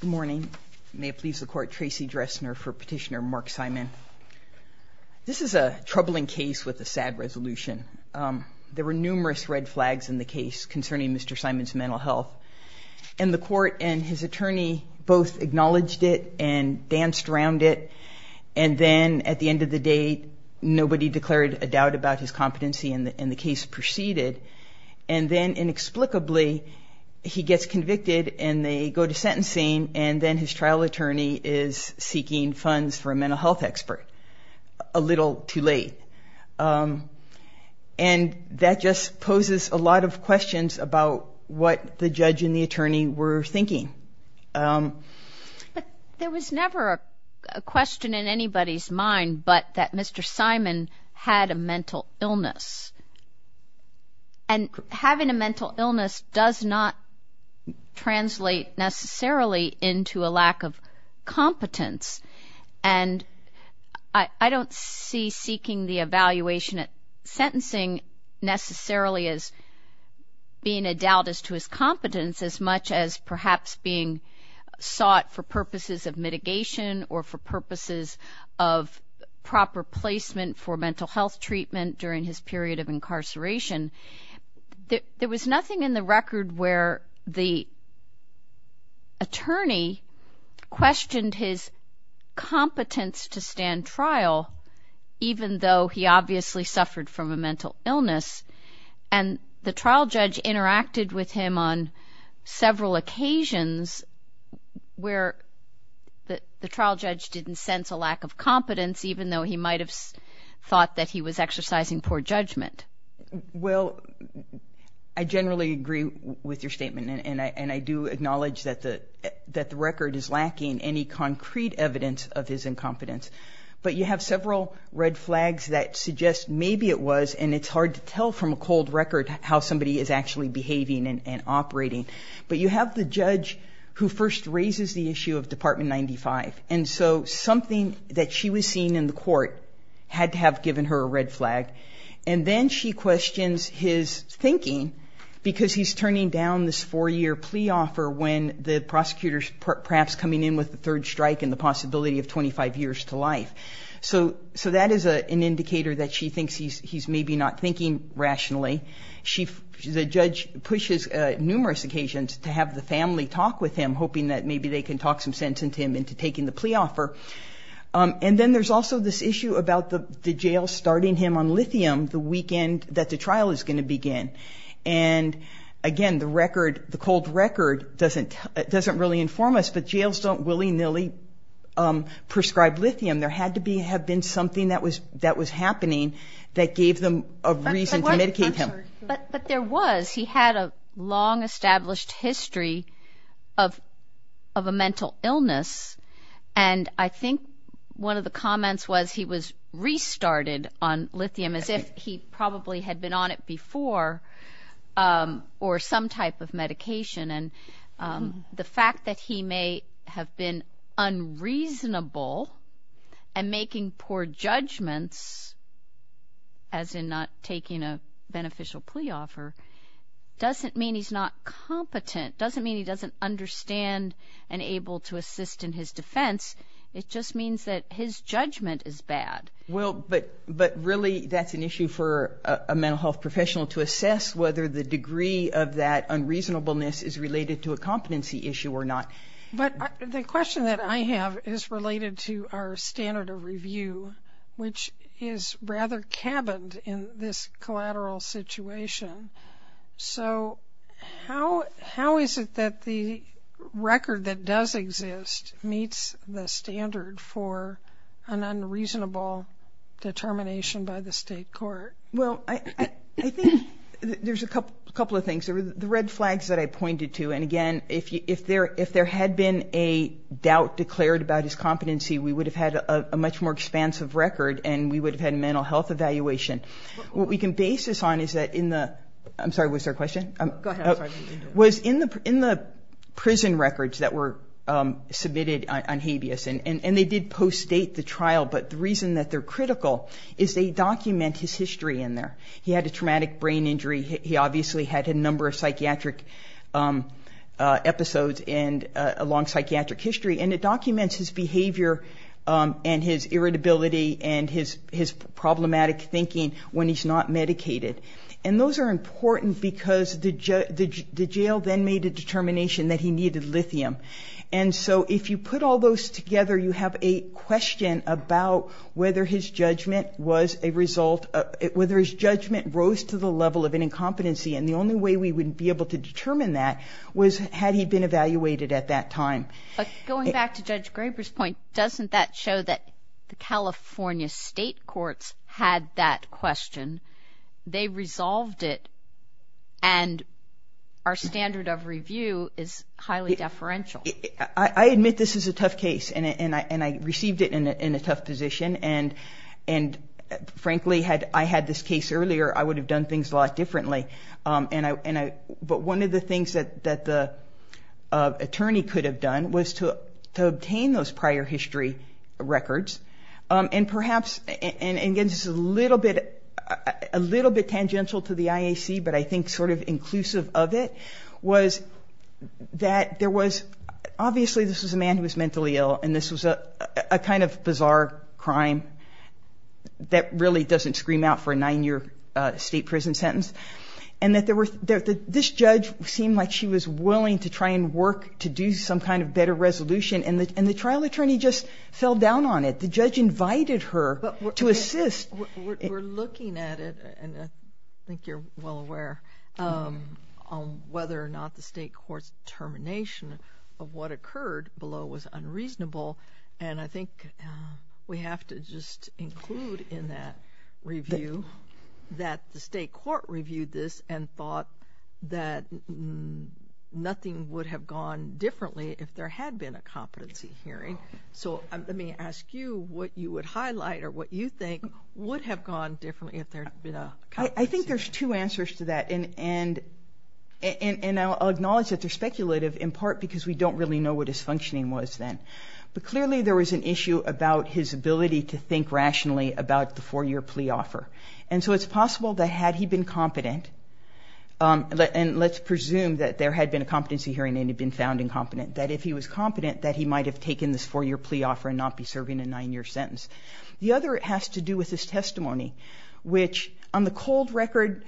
Good morning. May it please the Court, Tracy Dressner for Petitioner Mark Simon. This is a troubling case with a sad resolution. There were numerous red flags in the case concerning Mr. Simon's mental health, and the Court and his attorney both acknowledged it and danced around it, and then at the end of the day nobody declared a doubt about his go to sentencing, and then his trial attorney is seeking funds for a mental health expert a little too late. And that just poses a lot of questions about what the judge and the attorney were thinking. But there was never a question in anybody's mind but that Mr. Simon had a mental illness. And having a mental illness does not translate necessarily into a lack of competence. And I don't see seeking the evaluation at sentencing necessarily as being a doubt as to his competence as much as perhaps being sought for purposes of mitigation or for purposes of proper placement for mental health treatment during his period of incarceration. There was nothing in the record where the attorney questioned his competence to stand trial even though he obviously suffered from a mental illness. And the trial judge interacted with him on several occasions where the trial judge didn't sense a lack of competence even though he might have thought that he was exercising poor judgment. Well, I generally agree with your statement, and I do acknowledge that the record is lacking any concrete evidence of his incompetence. But you have several red flags that suggest maybe it was, and it's hard to tell from a cold record how somebody is actually behaving and operating. But you have the judge who first raises the issue of Department 95. And so something that she was seeing in the court had to have given her a red flag. And then she questions his thinking because he's turning down this four-year plea offer when the prosecutor's perhaps coming in with the third strike and the possibility of 25 years to life. So that is an indicator that she thinks he's maybe not thinking rationally. The judge pushes numerous occasions to have the family talk with him, to take in the plea offer. And then there's also this issue about the jail starting him on lithium the weekend that the trial is going to begin. And again, the record, the cold record, doesn't really inform us, but jails don't willy-nilly prescribe lithium. There had to have been something that was happening that gave them a reason to medicate him. But there was. He had a long established history of a mental illness. And I think one of the comments was he was restarted on lithium as if he probably had been on it before or some type of medication. And the fact that he may have been unreasonable and making poor judgments, as in not taking a beneficial plea offer, doesn't mean he's not competent. Doesn't mean he doesn't understand and able to assist in his defense. It just means that his judgment is bad. Well, but really that's an issue for a mental health professional to assess whether the degree of that unreasonableness is related to a competency issue or not. But the question that I have is related to our standard of review, which is rather cabined in this collateral situation. So how is it that the record that does exist meets the standard for an unreasonable determination by the state court? Well, I think there's a couple of things. The red flags that I pointed to. And again, if there had been a doubt declared about his competency, we would have had a much more expansive record and we would have had a mental health evaluation. What we can base this on is that in the, I'm sorry, was there a question? Go ahead. Was in the prison records that were submitted on habeas, and they did post-date the trial, but the reason that they're critical is they document his history in there. He had a traumatic brain injury. He obviously had a number of psychiatric episodes and a long psychiatric history. And it documents his behavior and his irritability and his problematic thinking when he's not medicated. And those are important because the jail then made a determination that he needed lithium. And so if you put all those together, you have a question about whether his judgment was a result, whether his judgment rose to the level of an incompetency. And the only way we would be able to determine that was had he been evaluated at that time. Going back to Judge Graber's point, doesn't that show that the California state courts had that question? They resolved it. And our standard of review is highly deferential. I admit this is a tough case, and I received it in a tough position. And frankly, had I had this case earlier, I would have done things a lot differently. But one of the things that the attorney could have done was to obtain those prior history records. And perhaps, and again, this is a little bit tangential to the IAC, but I think sort of inclusive of it, was that there was obviously this was a man who was mentally ill, and this was a kind of bizarre crime that really doesn't scream out for a nine-year state prison sentence, and that this judge seemed like she was willing to try and work to do some kind of better resolution. And the trial attorney just fell down on it. The judge invited her to assist. We're looking at it, and I think you're well aware, on whether or not the state court's determination of what occurred below was unreasonable. And I think we have to just include in that review that the state court reviewed this and thought that nothing would have gone differently if there had been a competency hearing. So let me ask you what you would highlight or what you think would have gone differently if there had been a competency hearing. I think there's two answers to that, and I'll acknowledge that they're speculative, in part because we don't really know what his functioning was then. But clearly there was an issue about his ability to think rationally about the four-year plea offer. And so it's possible that had he been competent, and let's presume that there had been a competency hearing and had been found incompetent, that if he was competent, that he might have taken this four-year plea offer and not be serving a nine-year sentence. The other has to do with his testimony, which on the cold record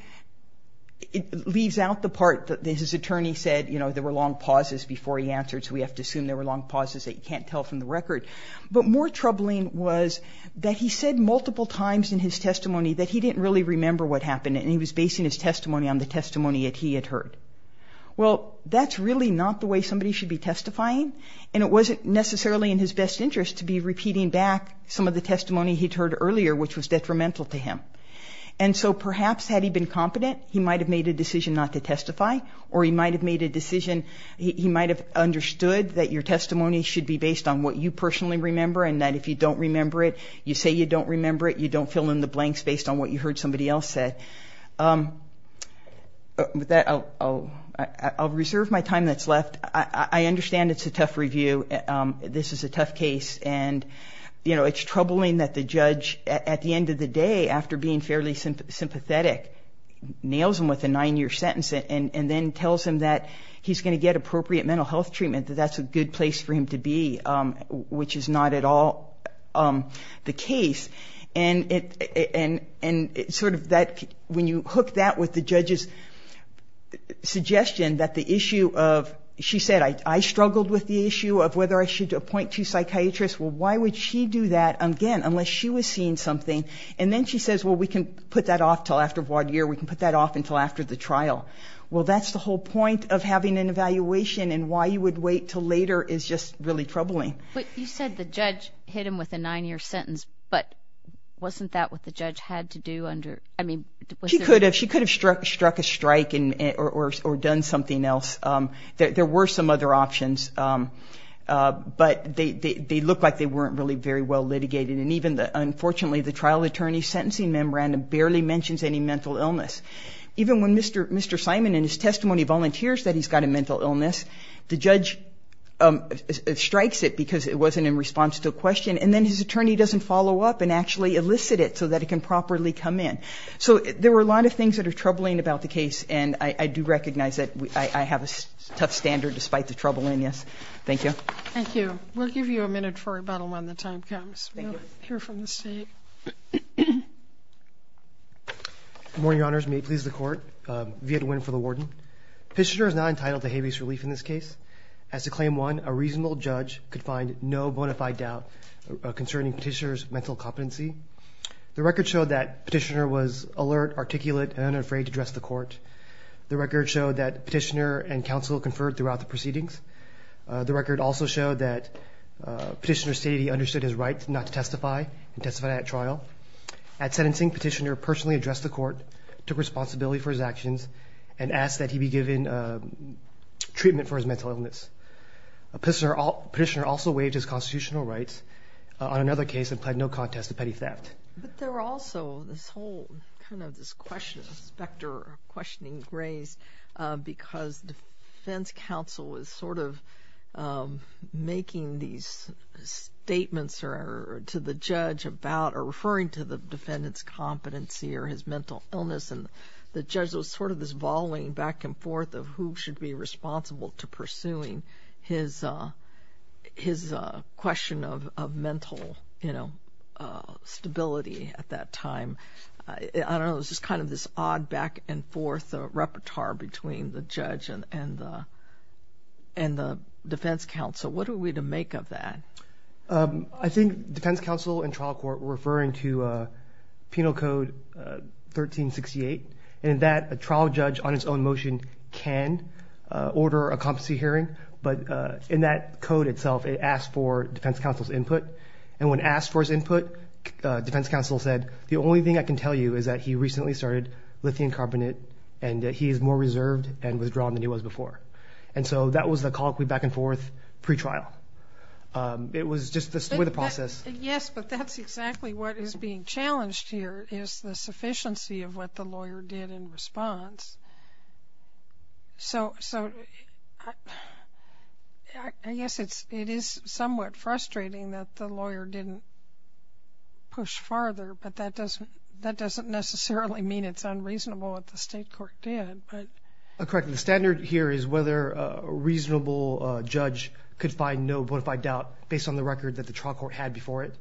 leaves out the part that his attorney said, you know, there were long pauses before he answered, so we have to assume there were long pauses that you can't tell from the record. But more troubling was that he said multiple times in his testimony that he didn't really remember what happened, and he was basing his testimony on the testimony that he had heard. Well, that's really not the way somebody should be testifying, and it wasn't necessarily in his best interest to be repeating back some of the testimony he'd heard earlier, which was detrimental to him. And so perhaps had he been competent, he might have made a decision not to testify, or he might have made a decision, he might have understood that your testimony should be based on what you personally remember, and that if you don't remember it, you say you don't remember it, you don't fill in the blanks based on what you heard somebody else said. With that, I'll reserve my time that's left. I understand it's a tough review. This is a tough case, and, you know, it's troubling that the judge, at the end of the day, after being fairly sympathetic, nails him with a nine-year sentence and then tells him that he's going to get appropriate mental health treatment, that that's a good place for him to be, which is not at all the case. And sort of that, when you hook that with the judge's suggestion that the issue of, she said, I struggled with the issue of whether I should appoint two psychiatrists. Well, why would she do that, again, unless she was seeing something? And then she says, well, we can put that off until after one year, we can put that off until after the trial. Well, that's the whole point of having an evaluation, and why you would wait until later is just really troubling. But you said the judge hit him with a nine-year sentence, but wasn't that what the judge had to do under, I mean, was there? She could have. She could have struck a strike or done something else. There were some other options, but they looked like they weren't really very well litigated. And even, unfortunately, the trial attorney's sentencing memorandum barely mentions any mental illness. Even when Mr. Simon, in his testimony, volunteers that he's got a mental illness, the judge strikes it because it wasn't in response to a question, and then his attorney doesn't follow up and actually elicit it so that it can properly come in. So there were a lot of things that are troubling about the case, and I do recognize that I have a tough standard despite the troublingness. Thank you. Thank you. We'll give you a minute for rebuttal when the time comes. Thank you. We'll hear from the State. Good morning, Your Honors. May it please the Court. Viet Nguyen for the warden. Petitioner is not entitled to habeas relief in this case. As to Claim 1, a reasonable judge could find no bona fide doubt concerning Petitioner's mental competency. The record showed that Petitioner was alert, articulate, and unafraid to address the Court. The record showed that Petitioner and counsel conferred throughout the proceedings. The record also showed that Petitioner stated he understood his right not to testify and testified at trial. At sentencing, Petitioner personally addressed the Court, took responsibility for his actions, and asked that he be given treatment for his mental illness. Petitioner also waived his constitutional rights on another case and pled no contest to petty theft. But there were also this whole kind of this question of specter, questioning grace because defense counsel was sort of making these statements to the judge about or referring to the defendant's competency or his mental illness. And the judge was sort of this volleying back and forth of who should be responsible to pursuing his question of mental stability at that time. I don't know, it was just kind of this odd back and forth repertoire between the judge and the defense counsel. What are we to make of that? I think defense counsel and trial court were referring to Penal Code 1368, and that a trial judge on his own motion can order a competency hearing, but in that code itself it asks for defense counsel's input. And when asked for his input, defense counsel said, the only thing I can tell you is that he recently started lithium carbonate, and that he is more reserved and withdrawn than he was before. And so that was the colloquy back and forth pre-trial. It was just this sort of process. Yes, but that's exactly what is being challenged here is the sufficiency of what the lawyer did in response. So I guess it is somewhat frustrating that the lawyer didn't push farther, but that doesn't necessarily mean it's unreasonable what the state court did. Correct. The standard here is whether a reasonable judge could find no bona fide doubt based on the record that the trial court had before it.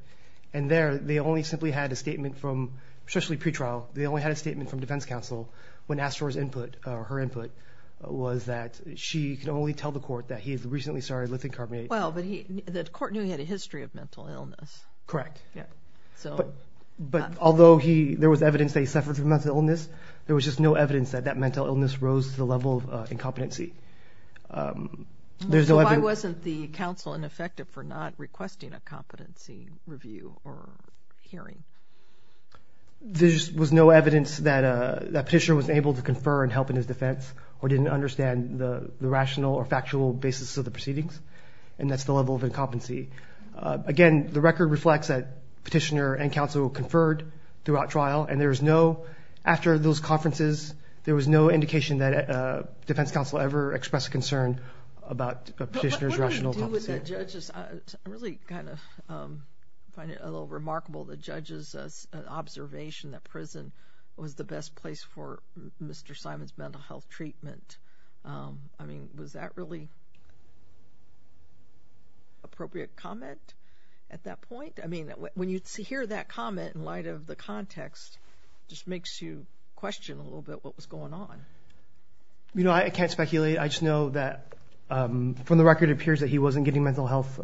And there they only simply had a statement from, especially pre-trial, they only had a statement from defense counsel when asked for his input, or her input, was that she could only tell the court that he had recently started lithium carbonate. Well, but the court knew he had a history of mental illness. Correct. But although there was evidence that he suffered from mental illness, there was just no evidence that that mental illness rose to the level of incompetency. So why wasn't the counsel ineffective for not requesting a competency review or hearing? There was no evidence that a petitioner was able to confer and help in his defense or didn't understand the rational or factual basis of the proceedings, and that's the level of incompetency. Again, the record reflects that petitioner and counsel conferred throughout trial, and there was no, after those conferences, there was no indication that defense counsel ever expressed concern about a petitioner's rational competency. I really kind of find it a little remarkable the judge's observation that prison was the best place for Mr. Simon's mental health treatment. I mean, was that really appropriate comment at that point? I mean, when you hear that comment in light of the context, it just makes you question a little bit what was going on. You know, I can't speculate. I just know that from the record it appears that he wasn't getting mental health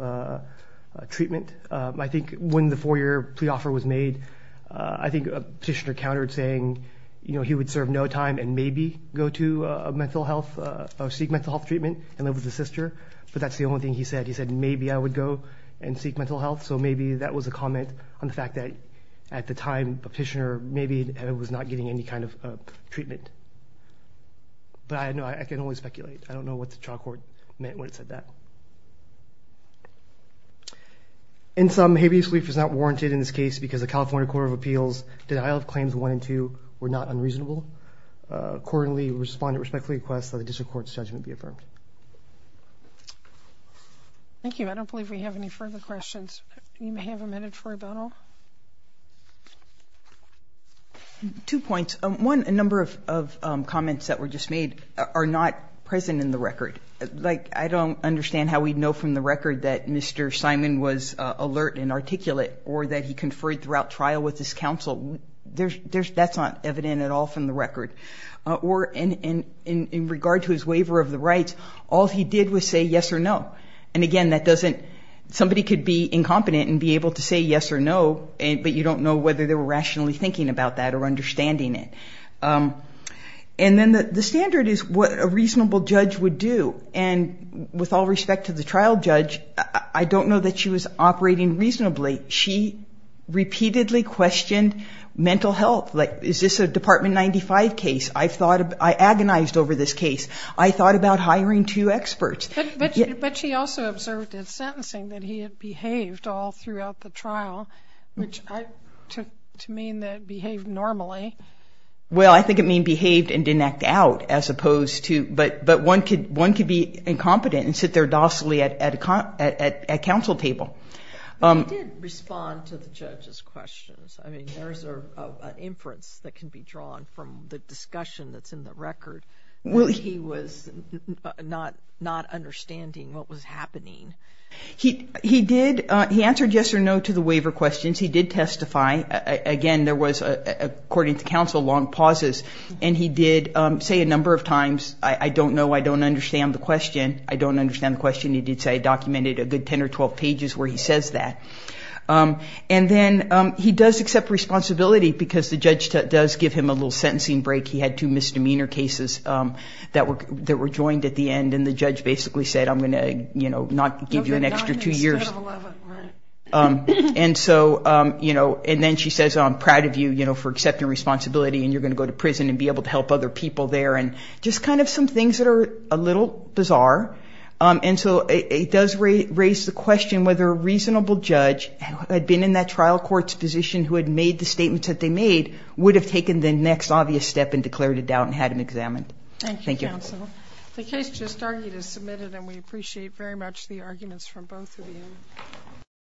treatment. I think when the four-year plea offer was made, I think a petitioner countered saying, you know, he would serve no time and maybe go to mental health or seek mental health treatment and live with his sister, but that's the only thing he said. He said, maybe I would go and seek mental health. So maybe that was a comment on the fact that at the time a petitioner maybe was not getting any kind of treatment. But I can only speculate. I don't know what the trial court meant when it said that. In sum, habeas belief is not warranted in this case because the California Court of Appeals' denial of claims 1 and 2 were not unreasonable. Accordingly, we respond and respectfully request that the district court's judgment be affirmed. Thank you. I don't believe we have any further questions. You may have a minute for a bono. Two points. One, a number of comments that were just made are not present in the record. Like, I don't understand how we'd know from the record that Mr. Simon was alert and articulate or that he conferred throughout trial with his counsel. That's not evident at all from the record. Or in regard to his waiver of the rights, all he did was say yes or no. And, again, that doesn't ‑‑ somebody could be incompetent and be able to say yes or no, but you don't know whether they were rationally thinking about that or understanding it. And then the standard is what a reasonable judge would do. And with all respect to the trial judge, I don't know that she was operating reasonably. She repeatedly questioned mental health. Like, is this a Department 95 case? I agonized over this case. I thought about hiring two experts. But she also observed in sentencing that he had behaved all throughout the trial, which I ‑‑ to mean that behaved normally. Well, I think it mean behaved and didn't act out as opposed to ‑‑ but one could be incompetent and sit there docilely at counsel table. He did respond to the judge's questions. I mean, there's an inference that can be drawn from the discussion that's in the record. He was not understanding what was happening. He did ‑‑ he answered yes or no to the waiver questions. He did testify. Again, there was, according to counsel, long pauses. And he did say a number of times, I don't know, I don't understand the question. I don't understand the question. He did say he documented a good 10 or 12 pages where he says that. And then he does accept responsibility because the judge does give him a little sentencing break. He had two misdemeanor cases that were joined at the end. And the judge basically said, I'm going to not give you an extra two years. And so, you know, and then she says, I'm proud of you for accepting responsibility and you're going to go to prison and be able to help other people there. And just kind of some things that are a little bizarre. And so it does raise the question whether a reasonable judge who had been in that trial court's position who had made the statements that they made would have taken the next obvious step and declared a doubt and had him examined. Thank you, counsel. The case just argued is submitted, and we appreciate very much the arguments from both of you.